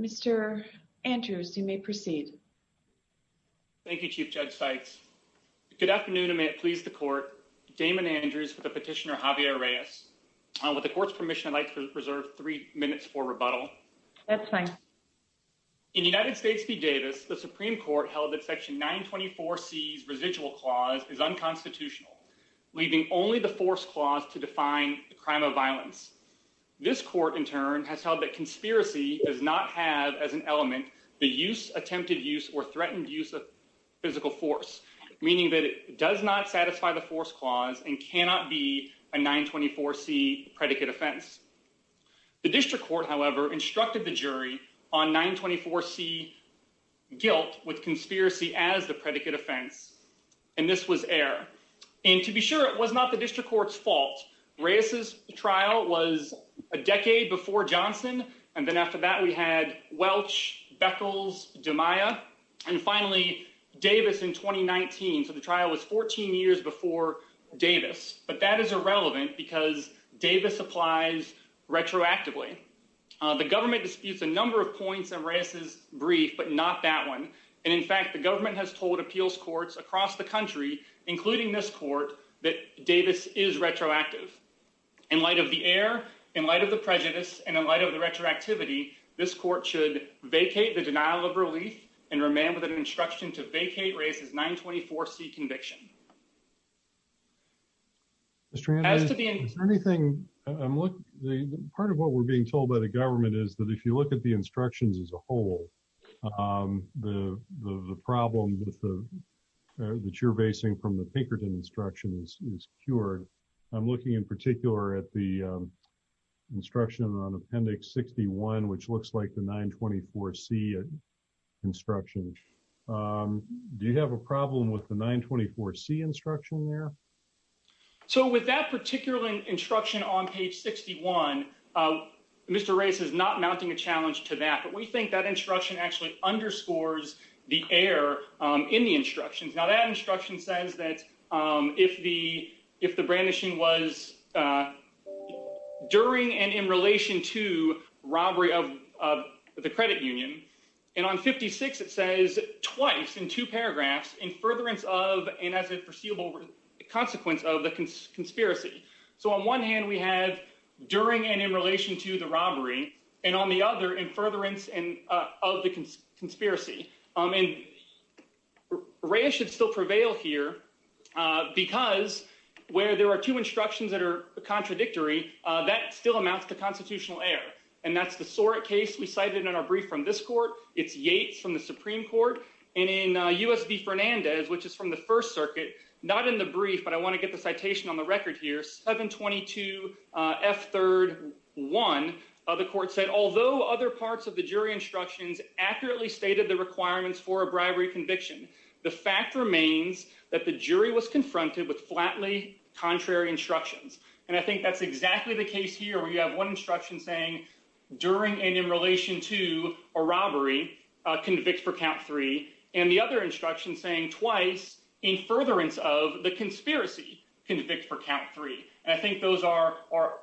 Mr. Andrews, you may proceed. Thank you, Chief Judge Sykes. Good afternoon, and may it please the Court, Damon Andrews with the petitioner Javier Reyes. With the Court's permission, I'd like to reserve three minutes for rebuttal. That's fine. In United States v. Davis, the Supreme Court held that Section 924C's residual clause is unconstitutional, leaving only the force clause to define the crime of violence. This Court, in turn, has held that conspiracy does not have as an element the use, attempted use, or threatened use of physical force, meaning that it does not satisfy the force clause and cannot be a 924C predicate offense. The District Court, however, instructed the jury on 924C guilt with conspiracy as the predicate offense, and this was error. And to be sure, it was not the District Court's fault. Reyes's trial was a decade before Johnson, and then after that we had Welch, Beckles, DeMaia, and finally Davis in 2019, so the trial was 14 years before Davis. But that is irrelevant because Davis applies retroactively. The government disputes a number of points in Reyes's brief, but not that one. And in fact, the government has told appeals courts across the country, including this Court, that Davis is retroactive. In light of the error, in light of the prejudice, and in light of the retroactivity, this Court should vacate the denial of relief and remain with an instruction to vacate Reyes's 924C conviction. As to be anything, part of what we're being told by the government is that if you look at the instructions as a whole, the problem that you're basing from the Pinkerton instructions is cured. I'm looking in particular at the instruction on Appendix 61, which looks like the 924C instruction. Do you have a problem with the 924C instruction there? So with that particular instruction on page 61, Mr. Reyes is not mounting a challenge to that, but we think that instruction actually underscores the error in the instructions. Now, that instruction says that if the brandishing was during and in relation to robbery of the credit union, and on 56 it says twice in two paragraphs, in furtherance of and as a foreseeable consequence of the conspiracy. So on one hand, we have during and in relation to the robbery, and on the other, in furtherance of the conspiracy. And Reyes should still prevail here because where there are two instructions that are contradictory, that still amounts to constitutional error. And that's the Sorek case we cited in our brief from this court. It's Yates from the Supreme Court. And in U.S. v. Fernandez, which is from the First Circuit, not in the brief, but I want to get the citation on the record here, 722F3-1, the court said, although other parts of the The fact remains that the jury was confronted with flatly contrary instructions. And I think that's exactly the case here where you have one instruction saying during and in relation to a robbery, convict for count three, and the other instruction saying twice in furtherance of the conspiracy, convict for count three. And I think those are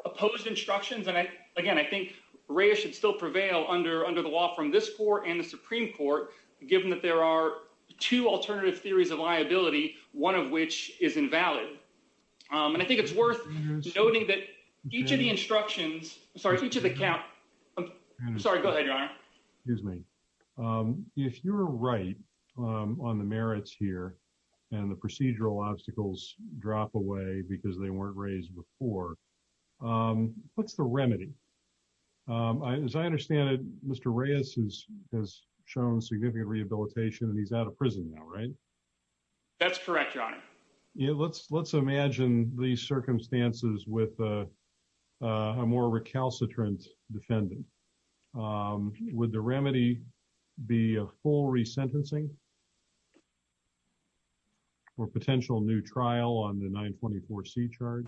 opposed instructions, and again, I think Reyes should still prevail under the law from this court and the Supreme Court, given that there are two alternative theories of liability, one of which is invalid. And I think it's worth noting that each of the instructions, sorry, each of the count, sorry, go ahead, Your Honor. Excuse me. If you're right on the merits here and the procedural obstacles drop away because they weren't raised before, what's the remedy? As I understand it, Mr. Reyes has shown significant rehabilitation and he's out of prison now, right? That's correct, Your Honor. Let's imagine these circumstances with a more recalcitrant defendant. Would the remedy be a full resentencing or potential new trial on the 924C charge?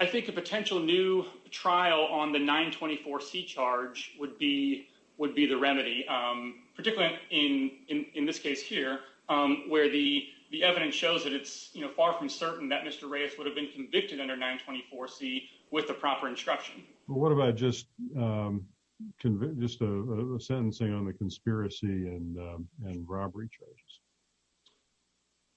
I think a potential new trial on the 924C charge would be the remedy, particularly in this case here, where the evidence shows that it's far from certain that Mr. Reyes would have been convicted under 924C with the proper instruction. What about just a sentencing on the conspiracy and robbery charges?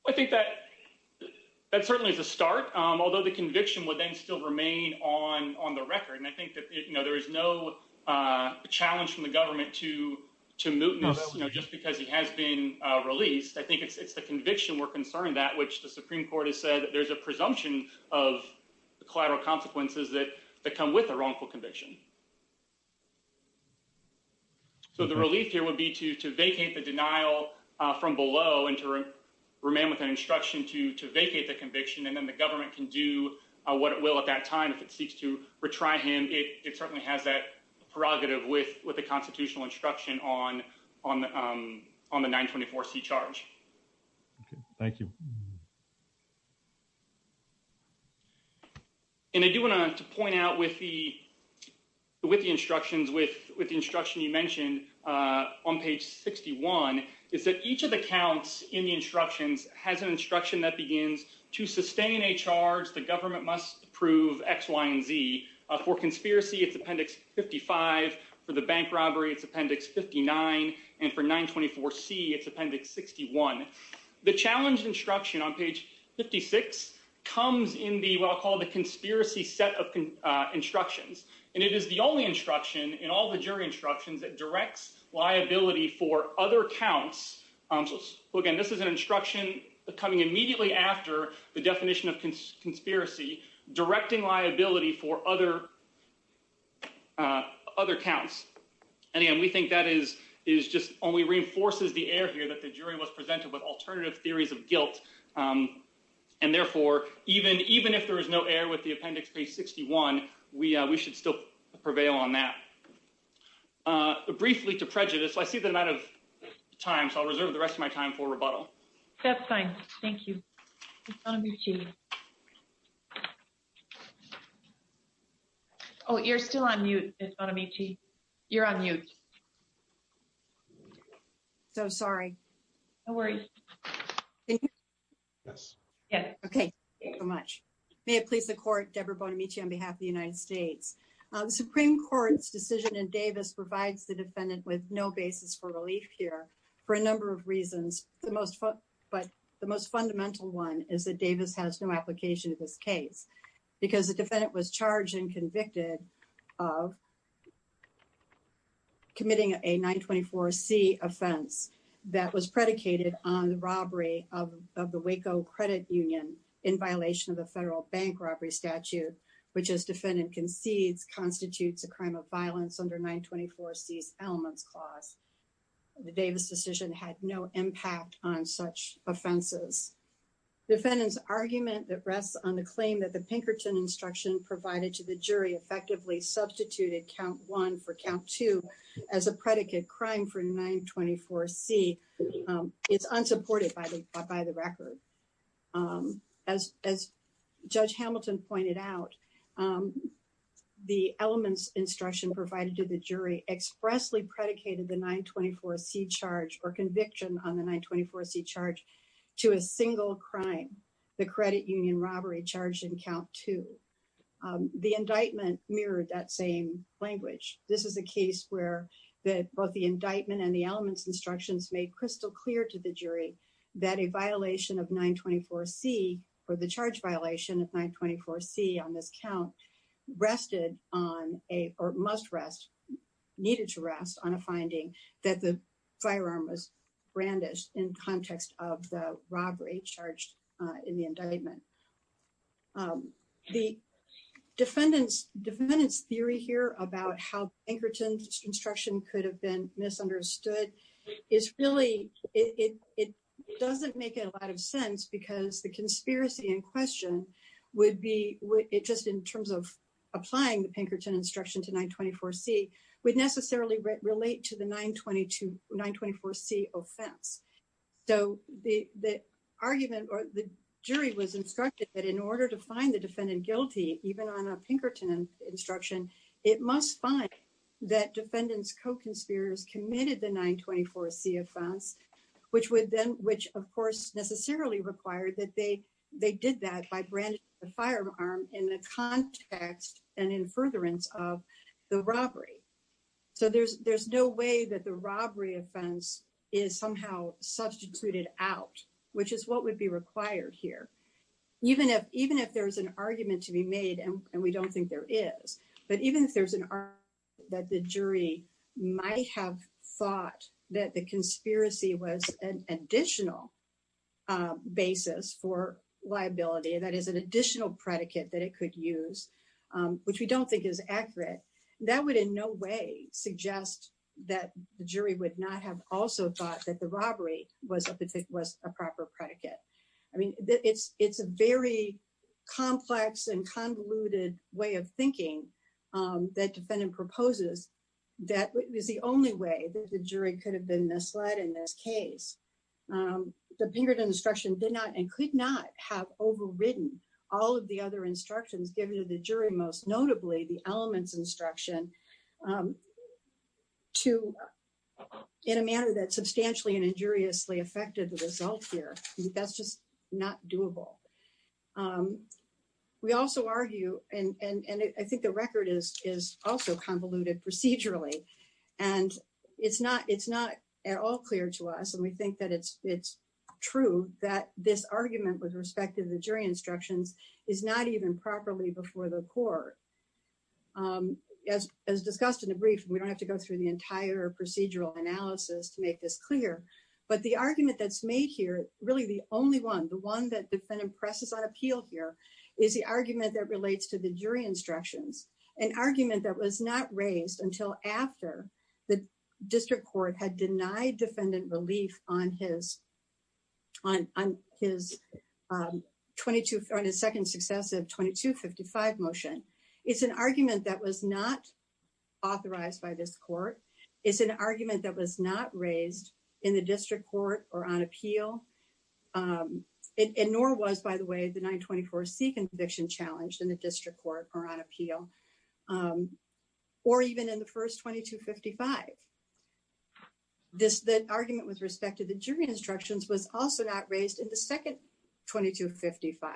I think that certainly is a start, although the conviction would then still remain on the record. And I think that there is no challenge from the government to mootness just because he has been released. I think it's the conviction we're concerned that which the Supreme Court has said that there's a presumption of the collateral consequences that come with a wrongful conviction. So the relief here would be to vacate the denial from below and to remain with an instruction to vacate the conviction. And then the government can do what it will at that time if it seeks to retry him. It certainly has that prerogative with the constitutional instruction on the 924C charge. Thank you. And I do want to point out with the instructions, with the instruction you mentioned on page 61, is that each of the counts in the instructions has an instruction that begins, to sustain a charge, the government must approve X, Y, and Z. For conspiracy, it's appendix 55. For the bank robbery, it's appendix 59. And for 924C, it's appendix 61. The challenge instruction on page 56 comes in what I'll call the conspiracy set of instructions. And it is the only instruction in all the jury instructions that directs liability for other counts. Again, this is an instruction coming immediately after the definition of conspiracy, directing liability for other counts. And, again, we think that is just only reinforces the error here that the jury was presented with alternative theories of guilt. And, therefore, even if there is no error with the appendix page 61, we should still prevail on that. Briefly to prejudice, I see that I'm out of time, so I'll reserve the rest of my time for rebuttal. That's fine. Thank you. It's on mute. Bonamici. Oh, you're still on mute, Bonamici. You're on mute. So sorry. Don't worry. Yes. Okay. Thank you so much. May it please the court, Deborah Bonamici on behalf of the United States. The Supreme Court's decision in Davis provides the defendant with no basis for relief here for a number of reasons. But the most fundamental one is that Davis has no application to this case because the defendant was charged and convicted of committing a 924C offense that was predicated on the robbery of the Waco Credit Union in violation of the federal bank robbery statute, which as defendant concedes constitutes a crime of violence under 924C's elements clause. The Davis decision had no impact on such offenses. Defendant's argument that rests on the claim that the Pinkerton instruction provided to the jury effectively substituted count one for count two as a predicate crime for 924C is unsupported by the record. As Judge Hamilton pointed out, the elements instruction provided to the jury expressly predicated the 924C charge or conviction on the 924C charge to a single crime, the credit union robbery charged in count two. The indictment mirrored that same language. This is a case where both the indictment and the elements instructions made crystal clear to the jury that a violation of 924C or the charge violation of 924C on this count rested or must rest, needed to rest on a finding that the firearm was brandished in context of the robbery charged in the indictment. The defendant's theory here about how Pinkerton's instruction could have been misunderstood is really, it doesn't make a lot of sense because the conspiracy in question would be just in terms of applying the Pinkerton instruction to 924C would necessarily relate to the 924C offense. So the argument or the jury was instructed that in order to find the defendant guilty, even on a Pinkerton instruction, it must find that defendant's co-conspirators committed the crime. So it doesn't necessarily require that they did that by brandishing the firearm in the context and in furtherance of the robbery. So there's no way that the robbery offense is somehow substituted out, which is what would be required here. Even if there's an argument to be made, and we don't think there is, but even if there's an argument that the jury might have thought that the conspiracy was an additional basis for liability, that is an additional predicate that it could use, which we don't think is accurate, that would in no way suggest that the jury would not have also thought that the robbery was a proper predicate. I mean, it's a very complex and convoluted way of thinking that defendant proposes that is the only way that the jury could have been misled in this case. The Pinkerton instruction did not and could not have overridden all of the other instructions given to the jury, most notably the elements instruction in a manner that substantially and significantly overrides the evidence. So that's just not doable. We also argue, and I think the record is also convoluted procedurally, and it's not at all clear to us, and we think that it's true that this argument with respect to the jury instructions is not even properly before the court. As discussed in the brief, we don't have to go through the entire procedural analysis to make this clear, but the argument that's made here, really the only one, the one that defendant presses on appeal here is the argument that relates to the jury instructions, an argument that was not raised until after the district court had denied defendant relief on his second successive 2255 motion. It's an argument that was not authorized by this court. It's an argument that was not raised in the district court or on appeal, and nor was, by the way, the 924C conviction challenged in the district court or on appeal or even in the first 2255. The argument with respect to the jury instructions was also not raised in the second 2255,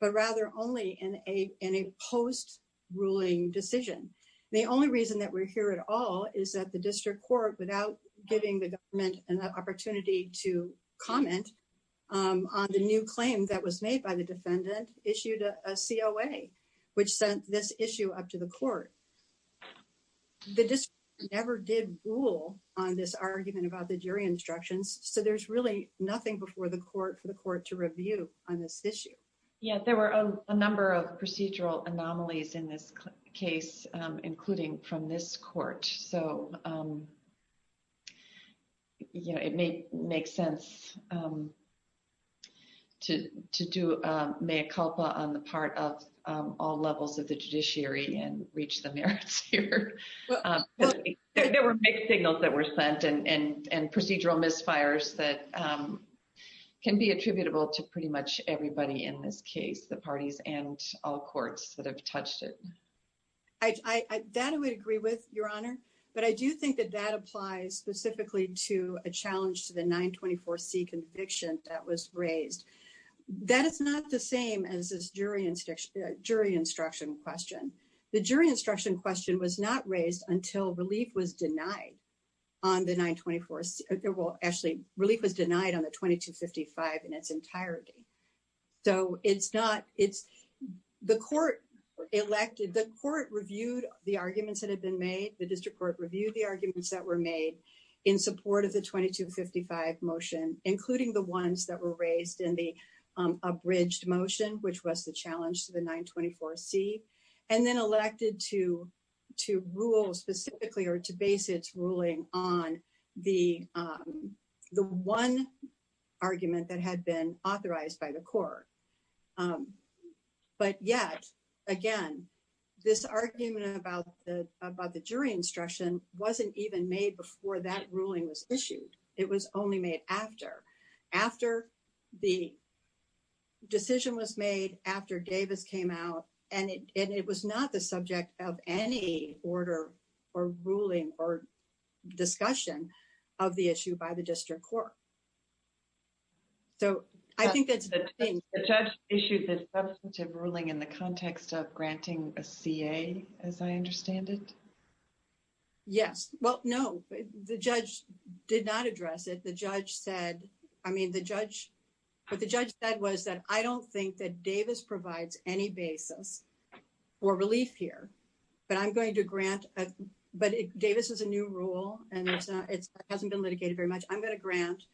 but rather only in a post-ruling decision. The only reason that we're here at all is that the district court, without giving the government an opportunity to comment on the new claim that was made by the defendant, issued a COA, which sent this issue up to the court. The district court never did rule on this argument about the jury instructions, so there's really nothing before the court for the court to review on this issue. There were a number of procedural anomalies in this case, including from this court, so it may make sense to do mea culpa on the part of all levels of the judiciary and reach the merits here. There were mixed signals that were sent and procedural misfires that can be attributable to pretty much everybody in this case, the parties and all courts that have touched it. That I would agree with, Your Honor, but I do think that that applies specifically to a challenge to the 924C conviction that was raised. That is not the same as this jury instruction question. The jury instruction question was not raised until relief was denied on the 924C. Relief was denied on the 2255 in its entirety. The court reviewed the arguments that had been made. The district court reviewed the arguments that were made in support of the 2255 motion, including the ones that were raised in the abridged motion, which was the challenge to the 924C, and then the court selected to rule specifically or to base its ruling on the one argument that had been authorized by the court. But yet, again, this argument about the jury instruction wasn't even made before that ruling was issued. It was only made after. After the decision was made, after Davis came out, and it was not the subject of any order or ruling or discussion of the issue by the district court. So I think that's the thing. The judge issued the substantive ruling in the context of granting a CA, as I understand it? Yes. Well, no. The judge did not address it. The judge said, I mean, the judge, what the judge said was that I don't think that Davis provides any basis for relief here, but I'm going to grant, but Davis is a new rule, and it hasn't been litigated very much. I'm going to grant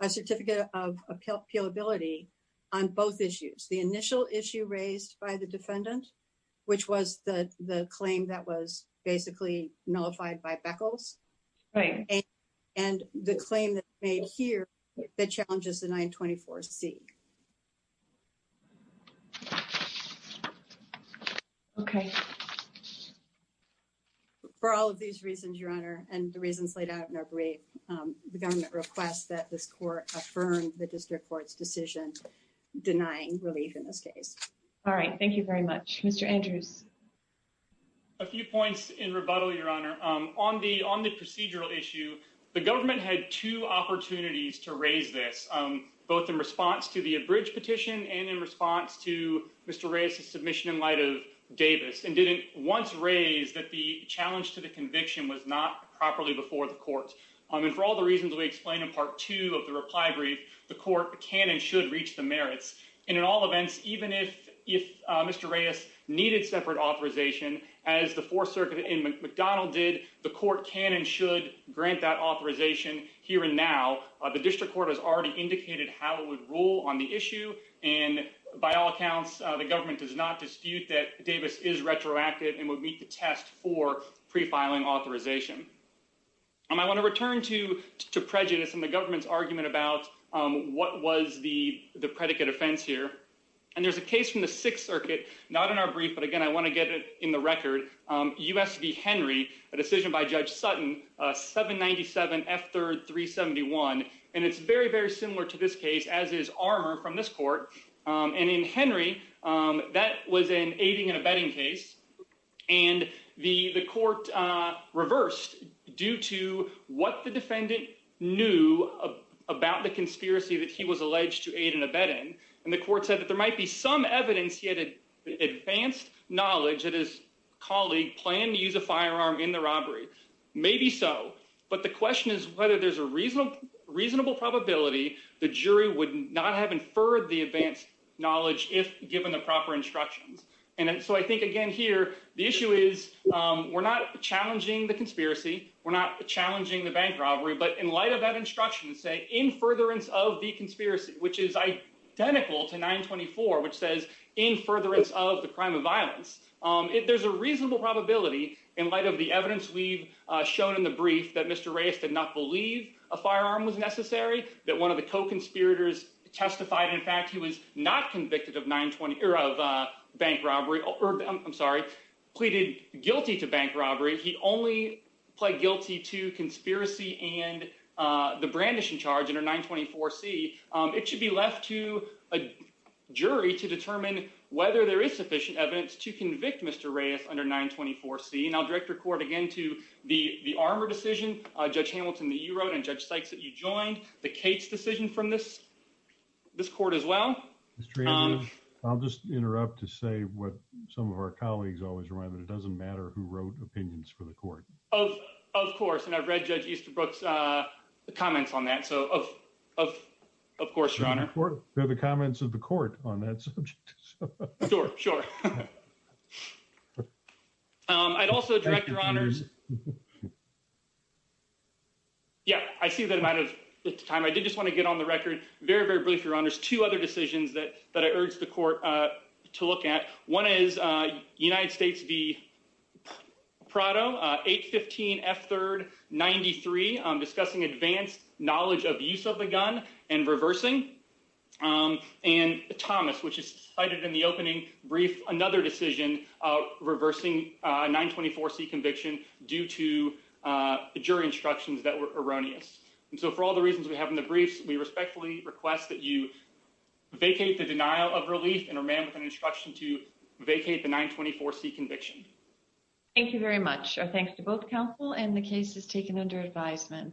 a certificate of appealability on both issues. The initial issue raised by the defendant, which was the claim that was basically nullified by Beckles, and the claim that's made here that challenges the 924C. Okay. For all of these reasons, Your Honor, and the reasons laid out in our brief, the government requests that this court affirm the district court's decision denying relief in this case. All right. Thank you very much. Mr. Andrews. A few points in rebuttal, Your Honor. On the procedural issue, the government had two opportunities to raise this, both in response to the abridged petition and in response to Mr. Reyes's submission in light of Davis, and didn't once raise that the challenge to the conviction was not properly before the court. And for all the reasons we explained in Part 2 of the reply brief, the court can and should reach the merits. And in all events, even if Mr. Reyes needed separate authorization, as the Fourth Circuit in McDonald did, the court can and should grant that authorization here and now. The district court has already indicated how it would rule on the issue, and by all accounts, the government does not dispute that Davis is retroactive and would meet the test for prefiling authorization. I want to return to prejudice and the government's argument about what was the predicate offense here. And there's a case from the Sixth Circuit, not in our brief, but again, I want to get it in the record, U.S. v. Henry, a decision by Judge Sutton, 797 F3rd 371. And it's very, very similar to this case, as is Armour from this court. And in Henry, that was an aiding and abetting case, and the court reversed due to what the defendant knew about the conspiracy that he was alleged to aid and abet in, and the court said that there might be some evidence he had advanced knowledge that his colleague planned to use a firearm in the robbery. Maybe so, but the question is whether there's a reasonable probability the jury would not have inferred the advanced knowledge if given the proper instructions. And so I think, again, here, the issue is we're not challenging the conspiracy, we're not challenging the bank robbery, but in light of that instruction saying, in furtherance of the conspiracy, which is identical to 924, which says, in furtherance of the crime of violence, there's a reasonable probability in light of the evidence we've shown in the brief that Mr. Reyes did not believe a firearm was necessary, that one of the co-conspirators testified, in fact, he was not convicted of bank robbery, I'm sorry, pleaded guilty to bank robbery. He only pled guilty to conspiracy and the brandishing charge under 924C. It should be left to a jury to determine whether there is sufficient evidence to convict Mr. Reyes under 924C, and I'll direct your court again to the Armour decision, Judge Hamilton that you wrote and Judge Sykes that you joined, the Cates decision from this court as well. Mr. Andrews, I'll just interrupt to say what some of our colleagues always remind me, it doesn't matter who wrote opinions for the court. Of course, and I've read Judge Easterbrook's comments on that, so of course, Your Honor. They're the comments of the court on that subject. Sure, sure. I'd also direct Your Honors, yeah, I see that amount of time. I did just want to get on the record, very, very briefly, Your Honors, two other decisions that I urge the court to look at. One is United States v. Prado, 815F3rd93, discussing advanced knowledge of use of the reversing 924C conviction due to jury instructions that were erroneous. And so for all the reasons we have in the briefs, we respectfully request that you vacate the denial of relief and remain with an instruction to vacate the 924C conviction. Thank you very much. Our thanks to both counsel and the cases taken under advisement.